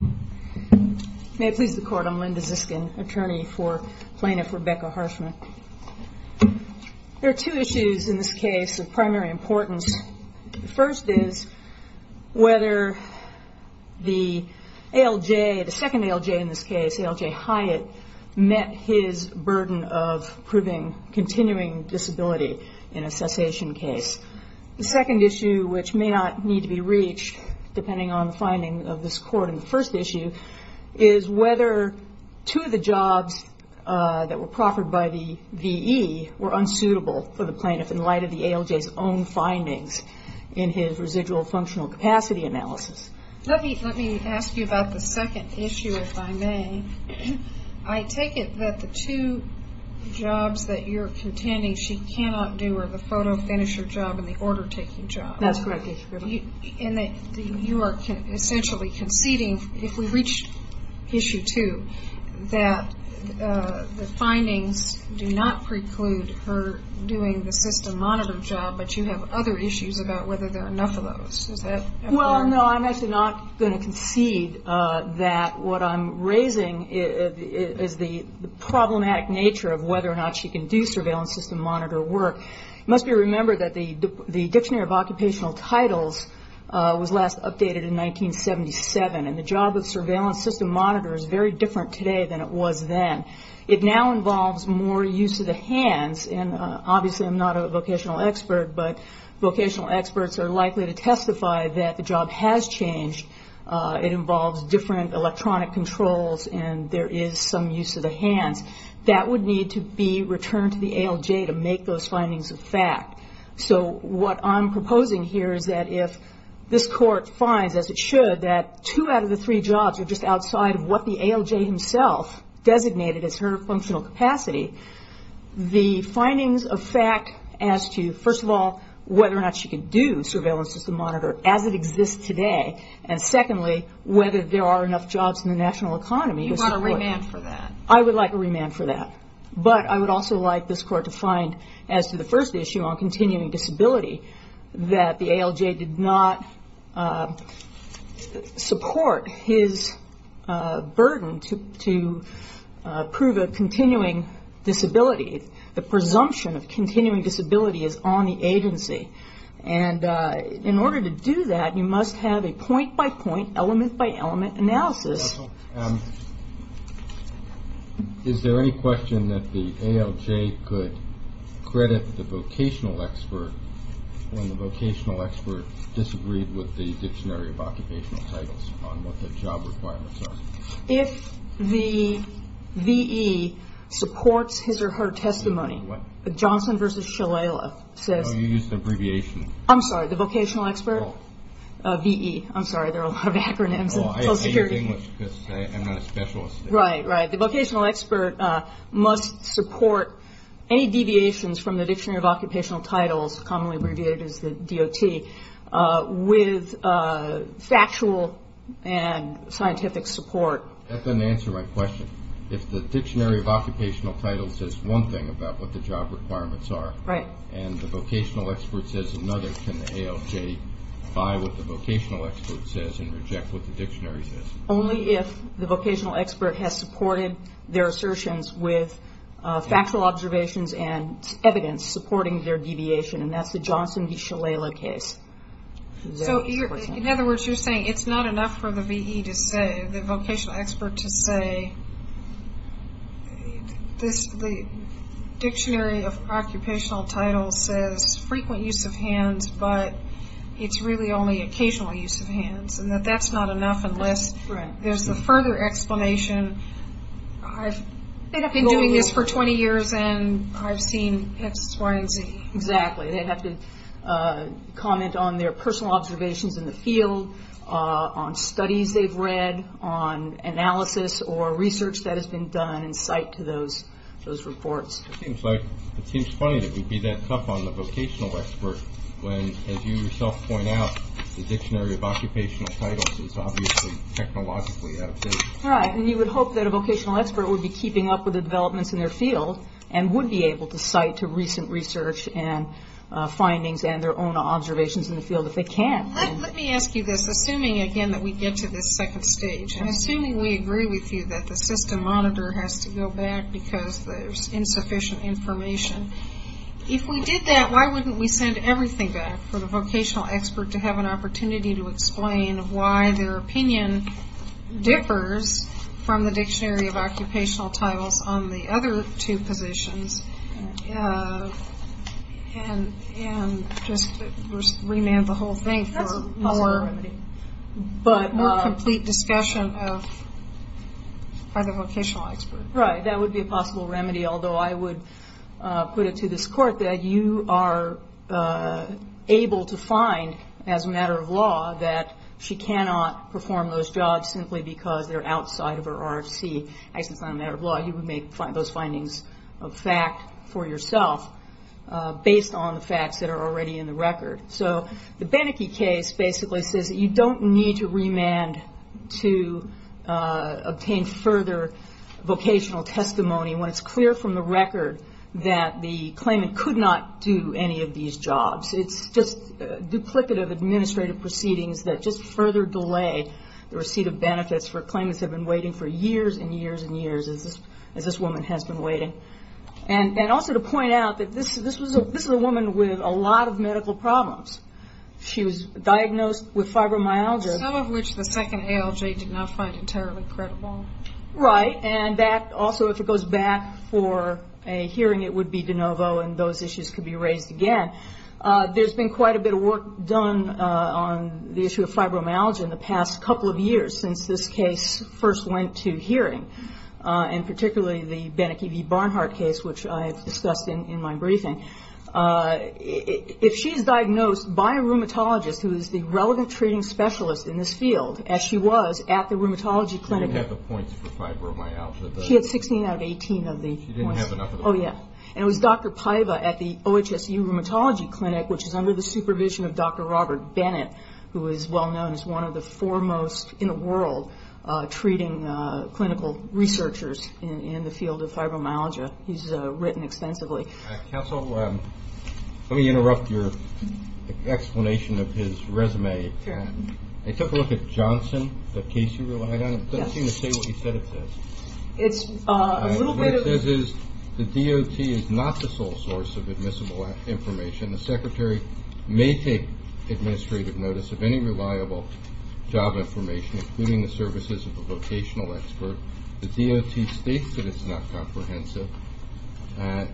There are two issues in this case of primary importance. The first is whether the second ALJ in this case, ALJ Hyatt, met his burden of proving continuing disability in a cessation case. The second issue, which may not need to be reached depending on the findings of this court in the first issue, is whether two of the jobs that were proffered by the V.E. were unsuitable for the plaintiff in light of the ALJ's own findings in his residual functional capacity analysis. Let me ask you about the second issue, if I may. I take it that the two jobs that you're contending she cannot do are the photo finisher job and the order taking job. That's correct, Ms. Griddle. And you are essentially conceding, if we reach issue two, that the findings do not preclude her doing the system monitor job, but you have other issues about whether there are enough of those. Well, no, I'm actually not going to concede that what I'm raising is the problematic nature of whether or not she can do surveillance system monitor work. It must be remembered that the Dictionary of Occupational Titles was last updated in 1977, and the job of surveillance system monitor is very different today than it was then. It now involves more use of the hands, and obviously I'm not a vocational expert, but vocational experts are likely to testify that the job has changed. It involves different electronic controls and there is some use of the hands. That would need to be returned to the ALJ to make those So what I'm proposing here is that if this Court finds, as it should, that two out of the three jobs are just outside of what the ALJ himself designated as her functional capacity, the findings of fact as to, first of all, whether or not she can do surveillance system monitor as it exists today, and secondly, whether there are enough jobs in the national economy. You want a remand for that? I would like a remand for that, but I would also like this Court to find, as to the first issue on continuing disability, that the ALJ did not support his burden to prove a continuing disability. The presumption of continuing disability is on the agency, and in order to do that, you must have a point-by-point, element-by-element analysis. Is there any question that the ALJ could credit the vocational expert when the vocational expert disagreed with the Dictionary of Occupational Titles on what the job requirements are? If the VE supports his or her testimony, Johnson v. Shalala says No, you used an abbreviation. I'm sorry, the vocational expert? No. VE. I'm sorry, there are a lot of acronyms. Oh, I hate English because I'm not a specialist. Right, right. The vocational expert must support any deviations from the Dictionary of Occupational Titles, commonly abbreviated as the DOT, with factual and scientific support. That doesn't answer my question. If the Dictionary of Occupational Titles says one thing about what the job requirements are, and the vocational expert says another, can the ALJ buy what the vocational expert says and reject what the Dictionary says? Only if the vocational expert has supported their assertions with factual observations and evidence supporting their deviation, and that's the Johnson v. Shalala case. So, in other words, you're saying it's not enough for the VE to say, the vocational expert to say, the Dictionary of Occupational Titles says frequent use of hands, but it's really only occasional use of hands, and that that's not enough unless there's a further explanation. I've been doing this for 20 years, and I've seen X, Y, and Z. Exactly. They'd have to comment on their personal observations in the field, on studies they've read, on analysis or research that has been done in sight to those reports. It seems funny that we'd be that tough on the vocational expert when, as you yourself point out, the Dictionary of Occupational Titles is obviously technologically out of date. Right, and you would hope that a vocational expert would be keeping up with the developments in their field and would be able to cite to recent research and findings and their own observations in the field if they can. Let me ask you this, assuming, again, that we get to this second stage, and assuming we agree with you that the system monitor has to go back because there's insufficient information, if we did that, why wouldn't we send everything back for the vocational expert to have an opportunity to explain why their opinion differs from the Dictionary of Occupational Titles on the other two positions and just remand the whole thing for more complete discussion by the vocational expert? Right, that would be a possible remedy, although I would put it to this Court that you are able to find, as a matter of law, that she cannot perform those jobs simply because they're outside of her RFC. Actually, it's not a matter of law. You would make those findings a fact for yourself based on the facts that are already in the record. So the Beneke case basically says that you don't need to remand to obtain further vocational testimony when it's clear from the record that the claimant could not do any of these jobs. It's just duplicative administrative proceedings that just further delay the receipt of benefits for claimants that have been waiting for years and years and years, as this woman has been waiting. And also to point out that this is a woman with a lot of medical problems. She was diagnosed with fibromyalgia. Some of which the second ALJ did not find entirely credible. Right, and that also, if it goes back for a hearing, it would be de novo and those issues could be raised again. There's been quite a bit of work done on the issue of fibromyalgia in the past couple of discussed in my briefing. If she's diagnosed by a rheumatologist who is the relevant treating specialist in this field, as she was at the rheumatology clinic. She didn't have the points for fibromyalgia. She had 16 out of 18 of the points. She didn't have enough of the points. Oh, yeah. And it was Dr. Paiva at the OHSU Rheumatology Clinic, which is under the supervision of Dr. Robert Bennett, who is well known as one of the foremost in the world treating clinical researchers in the field of fibromyalgia. He's written extensively. Counsel, let me interrupt your explanation of his resume. Sure. I took a look at Johnson, the case you relied on. It doesn't seem to say what you said it says. It's a little bit of... What it says is the DOT is not the sole source of admissible information. The secretary may take administrative notice of any reliable job information, including the services of a vocational expert. The DOT states that it's not comprehensive. And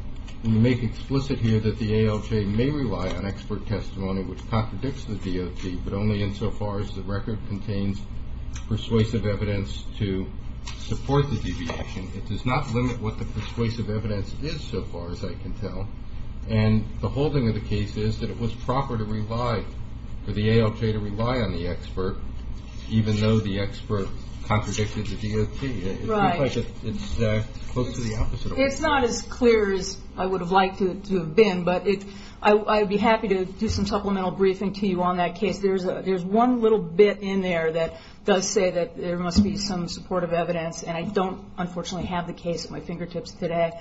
you make explicit here that the ALJ may rely on expert testimony, which contradicts the DOT, but only insofar as the record contains persuasive evidence to support the deviation. It does not limit what the persuasive evidence is so far, as I can tell. And the holding of the case is that it was proper to rely, for the ALJ to rely on the expert contradicted the DOT. Right. It's close to the opposite. It's not as clear as I would have liked it to have been, but I'd be happy to do some supplemental briefing to you on that case. There's one little bit in there that does say that there must be some supportive evidence, and I don't, unfortunately, have the case at my fingertips today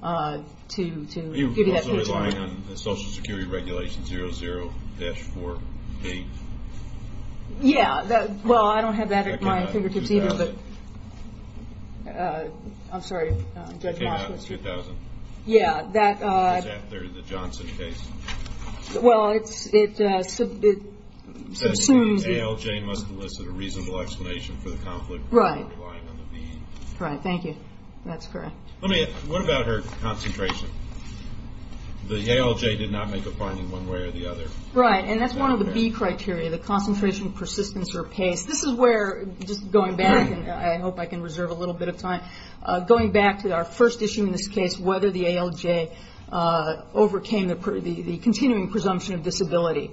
to give you that picture. Are you also relying on Social Security Regulation 00-4-8? Yeah. Well, I don't have that at my fingertips either. I'm sorry. It came out in 2000. Yeah. That's after the Johnson case. Well, it assumes that ALJ must elicit a reasonable explanation for the conflict. Right. Thank you. That's correct. What about her concentration? The ALJ did not make a finding one way or the other. Right. And that's one of the B criteria. The concentration, persistence, or pace. This is where, just going back, and I hope I can reserve a little bit of time, going back to our first issue in this case, whether the ALJ overcame the continuing presumption of disability.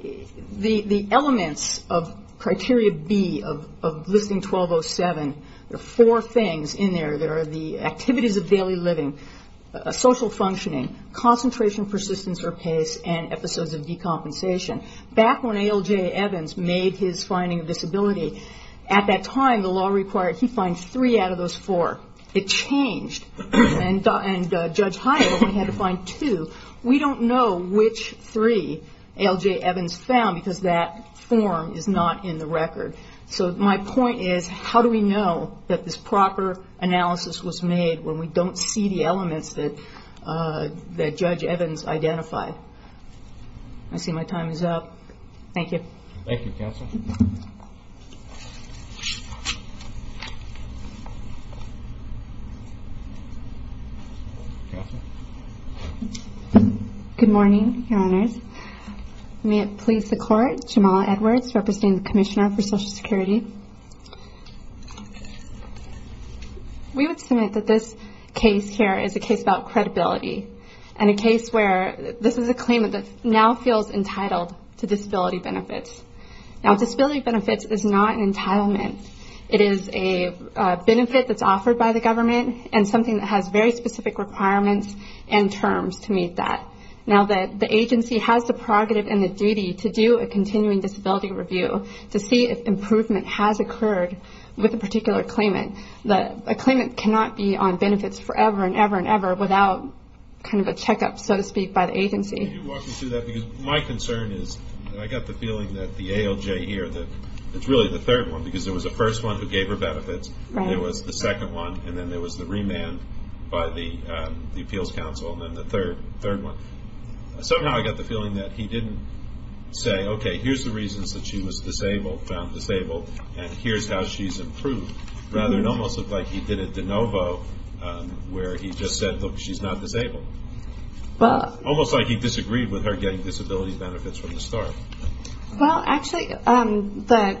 The elements of criteria B of Listing 1207, there are four things in there. There are the activities of daily living, social functioning, concentration, persistence, or pace, and episodes of decompensation. Back when ALJ Evans made his finding of disability, at that time, the law required he find three out of those four. It changed, and Judge Hyatt only had to find two. We don't know which three ALJ Evans found because that form is not in the record. So my point is, how do we know that this proper analysis was made when we don't see the elements that Judge Evans identified? I see my time is up. Thank you. Thank you, Counsel. Good morning, Your Honors. May it please the Court, Jamala Edwards, representing the Commissioner for Social Security. We would submit that this case here is a case about credibility, and a case where this is a claimant that now feels entitled to disability benefits. Now, disability benefits is not an entitlement. It is a benefit that's offered by the government, and something that has very specific requirements and terms to meet that. Now, the agency has the prerogative and the duty to do a continuing disability review to see if improvement has occurred with a particular claimant. A claimant cannot be on benefits forever and ever and ever without kind of a checkup, so to speak, by the agency. Can you walk me through that? Because my concern is that I got the feeling that the ALJ here, that it's really the third one, because there was a first one who gave her benefits. Right. There was the second one, and then there was the remand by the Appeals Counsel, and then the third one. Somehow I got the feeling that he didn't say, okay, here's the reasons that she was found disabled, and here's how she's improved. Rather, it almost looked like he did a de novo where he just said, look, she's not disabled. Almost like he disagreed with her getting disability benefits from the start. Well, actually, the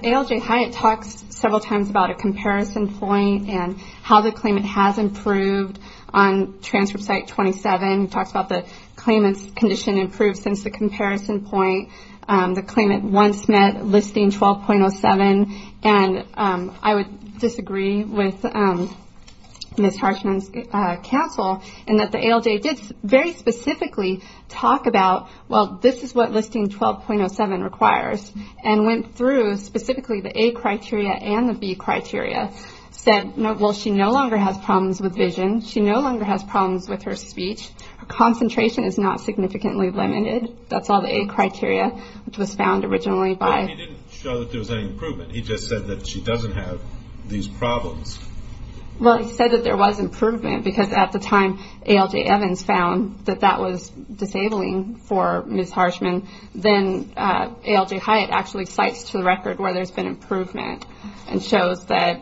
ALJ Hyatt talks several times about a comparison point and how the claimant has improved on Transfer Site 27. He talks about the claimant's condition improved since the comparison point. The claimant once met Listing 12.07, and I would disagree with Ms. Harshman's counsel in that the ALJ did very specifically talk about, well, this is what Listing 12.07 requires, and went through specifically the A criteria and the B criteria, said, well, she no longer has problems with vision. She no longer has problems with her speech. Her concentration is not significantly limited. That's all the A criteria, which was found originally by. He didn't show that there was any improvement. He just said that she doesn't have these problems. Well, he said that there was improvement because at the time ALJ Evans found that that was disabling for Ms. Harshman. Then ALJ Hyatt actually cites to the record where there's been improvement and shows that.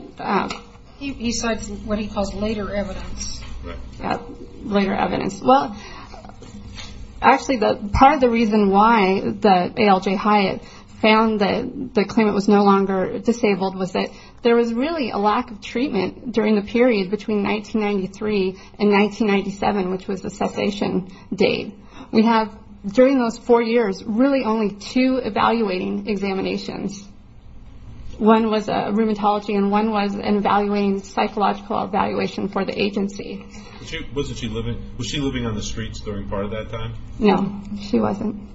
He cites what he calls later evidence. Right. Later evidence. Well, actually, part of the reason why the ALJ Hyatt found that the claimant was no longer disabled was that there was really a lack of treatment during the period between 1993 and 1997, which was the cessation date. We have during those four years really only two evaluating examinations. One was a rheumatology, and one was an evaluating psychological evaluation for the agency. Was she living on the streets during part of that time? No, she wasn't.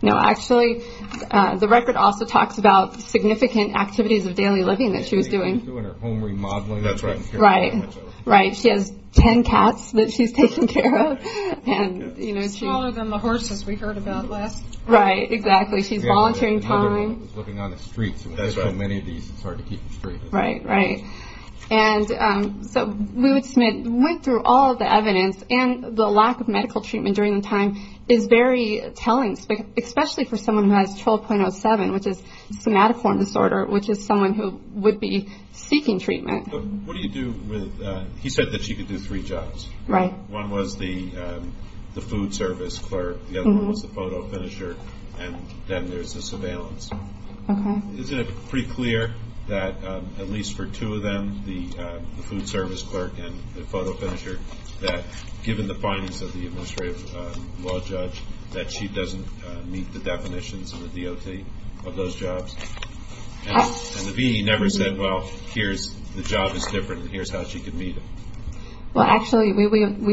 No, actually, the record also talks about significant activities of daily living that she was doing. Doing her home remodeling. That's right. Right. She has ten cats that she's taking care of. Smaller than the horses we heard about last time. Right. Exactly. She's volunteering time. Another one is living on the streets. That's right. With so many of these, it's hard to keep them straight. Right, right. And so we went through all of the evidence, and the lack of medical treatment during the time is very telling, especially for someone who has 12.07, which is somatoform disorder, which is someone who would be seeking treatment. What do you do with that? He said that she could do three jobs. Right. One was the food service clerk. The other one was the photo finisher. And then there's the surveillance. Okay. Isn't it pretty clear that at least for two of them, the food service clerk and the photo finisher, that given the findings of the administrative law judge, that she doesn't meet the definitions of the DOT of those jobs? And the VA never said, well, here's the job that's different, and here's how she could meet it? Well, actually, we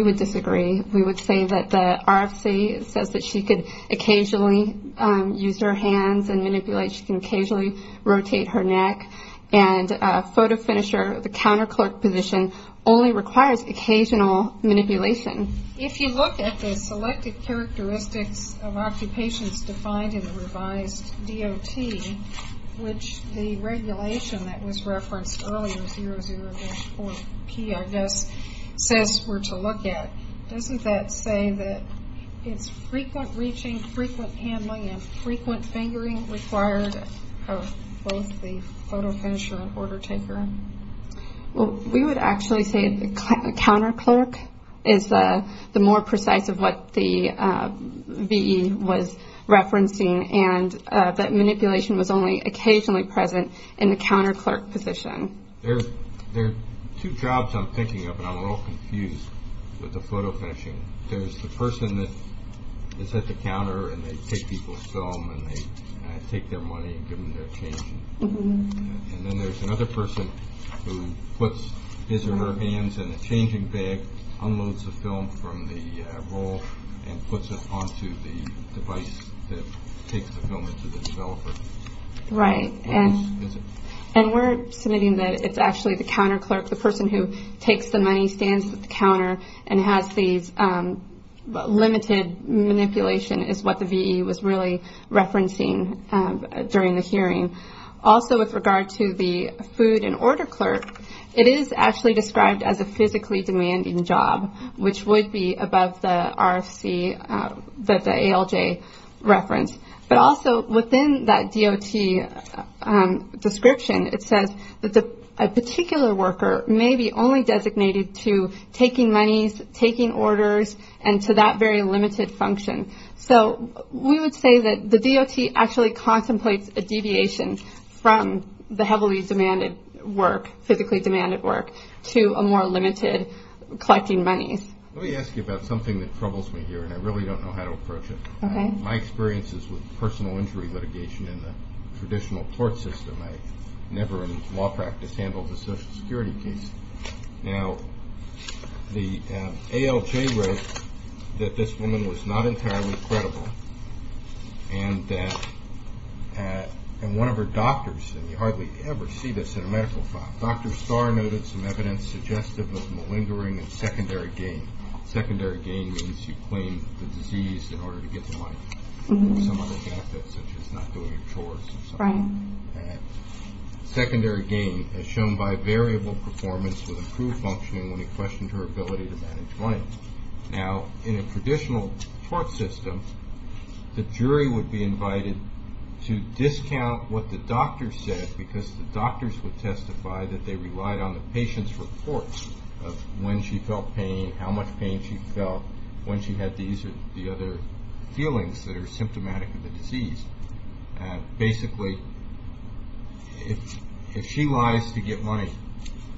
would disagree. We would say that the RFC says that she could occasionally use her hands and manipulate, she can occasionally rotate her neck, and photo finisher, the counterclerk position, only requires occasional manipulation. If you look at the selected characteristics of occupations defined in the revised DOT, which the regulation that was referenced earlier, 004P, I guess, says we're to look at, doesn't that say that it's frequent reaching, frequent handling, and frequent fingering required of both the photo finisher and order taker? Well, we would actually say the counterclerk is the more precise of what the VE was referencing, and that manipulation was only occasionally present in the counterclerk position. There are two jobs I'm thinking of, and I'm a little confused with the photo finishing. There's the person that is at the counter, and they take people's film, and they take their money and give them their change, and then there's another person who puts his or her hands in a changing bag, unloads the film from the roll, and puts it onto the device that takes the film into the developer. Right, and we're submitting that it's actually the counterclerk, the person who takes the money, stands at the counter, and has these limited manipulation is what the VE was really referencing during the hearing. Also, with regard to the food and order clerk, it is actually described as a physically demanding job, which would be above the ALJ reference. But also, within that DOT description, it says that a particular worker may be only designated to taking monies, taking orders, and to that very limited function. So we would say that the DOT actually contemplates a deviation from the heavily demanded work, physically demanded work, to a more limited collecting monies. Let me ask you about something that troubles me here, and I really don't know how to approach it. My experience is with personal injury litigation in the traditional court system. I never in law practice handled a Social Security case. Now, the ALJ wrote that this woman was not entirely credible, and that one of her doctors, and you hardly ever see this in a medical file, Dr. Starr noted some evidence suggestive of malingering and secondary gain. Secondary gain means you claim the disease in order to get the money, or some other benefit such as not doing chores or something like that. Secondary gain is shown by variable performance with improved functioning when you question her ability to manage money. Now, in a traditional court system, the jury would be invited to discount what the doctor said because the doctors would testify that they relied on the patient's report of when she felt pain, how much pain she felt, when she had these or the other feelings that are symptomatic of the disease. Basically, if she lies to get money,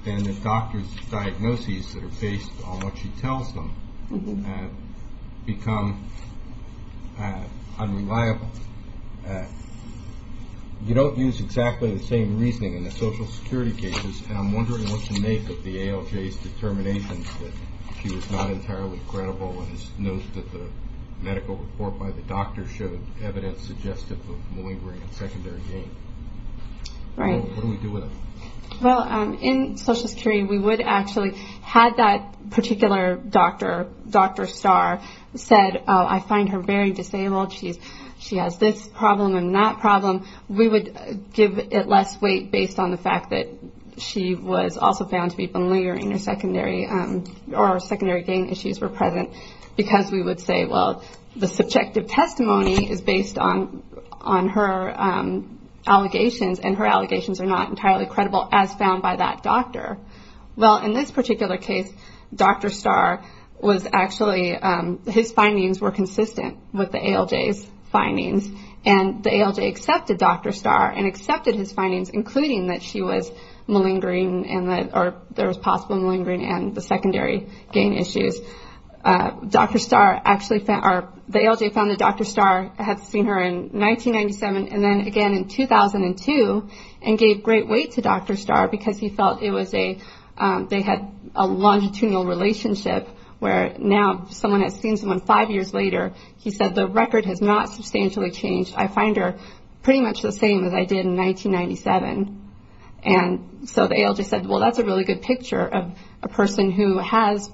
then the doctor's diagnoses that are based on what she tells them become unreliable. You don't use exactly the same reasoning in the Social Security cases, and I'm wondering what to make of the ALJ's determination that she was not entirely credible and notes that the medical report by the doctor showed evidence suggestive of malingering and secondary gain. Right. What do we do with it? Well, in Social Security, we would actually, had that particular doctor, Dr. Starr, said, I find her very disabled, she has this problem and that problem, we would give it less weight based on the fact that she was also found to be malingering or secondary gain issues were present because we would say, well, the subjective testimony is based on her allegations and her allegations are not entirely credible as found by that doctor. Well, in this particular case, Dr. Starr was actually, his findings were consistent with the ALJ's findings, and the ALJ accepted Dr. Starr and accepted his findings, including that she was malingering or there was possible malingering and the secondary gain issues. Dr. Starr actually, or the ALJ found that Dr. Starr had seen her in 1997 and then again in 2002 and gave great weight to Dr. Starr because he felt it was a, they had a longitudinal relationship where now someone has seen someone five years later, he said, the record has not substantially changed. I find her pretty much the same as I did in 1997. And so the ALJ said, well, that's a really good picture of a person who has,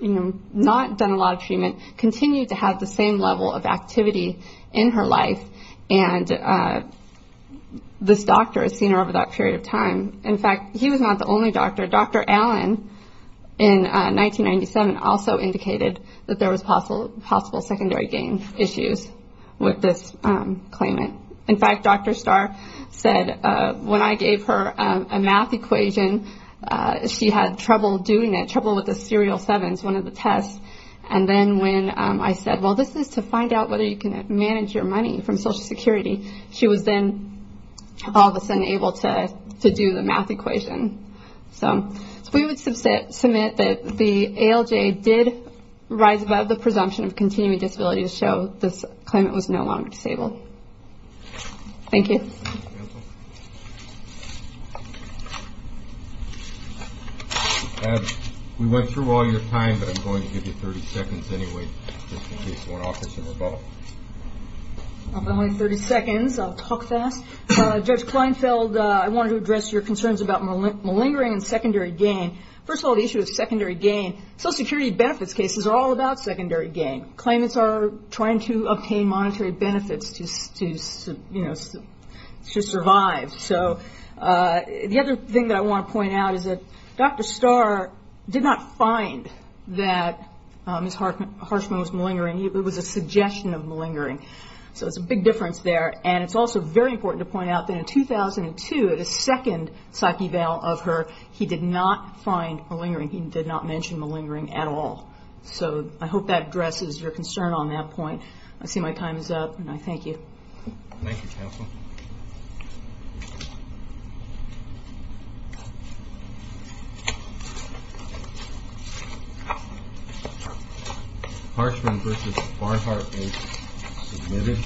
you know, not done a lot of treatment, continued to have the same level of activity in her life, and this doctor has seen her over that period of time. In fact, he was not the only doctor. Dr. Allen in 1997 also indicated that there was possible secondary gain issues with this claimant. In fact, Dr. Starr said when I gave her a math equation, she had trouble doing it, trouble with the serial sevens, one of the tests. And then when I said, well, this is to find out whether you can manage your money from Social Security, she was then all of a sudden able to do the math equation. So we would submit that the ALJ did rise above the presumption of continuing disability to show this claimant was no longer disabled. Thank you. We went through all your time, but I'm going to give you 30 seconds anyway, just in case you want to offer some rebuttal. I'll give you 30 seconds. I'll talk fast. Judge Kleinfeld, I wanted to address your concerns about malingering and secondary gain. First of all, the issue of secondary gain, Social Security benefits cases are all about secondary gain. Claimants are trying to obtain monetary benefits to survive. So the other thing that I want to point out is that Dr. Starr did not find that Ms. Harshman was malingering. It was a suggestion of malingering. So it's a big difference there. And it's also very important to point out that in 2002, the second psych eval of her, he did not find malingering. He did not mention malingering at all. So I hope that addresses your concern on that point. I see my time is up, and I thank you. Thank you, counsel. Harshman v. Barhart is submitted.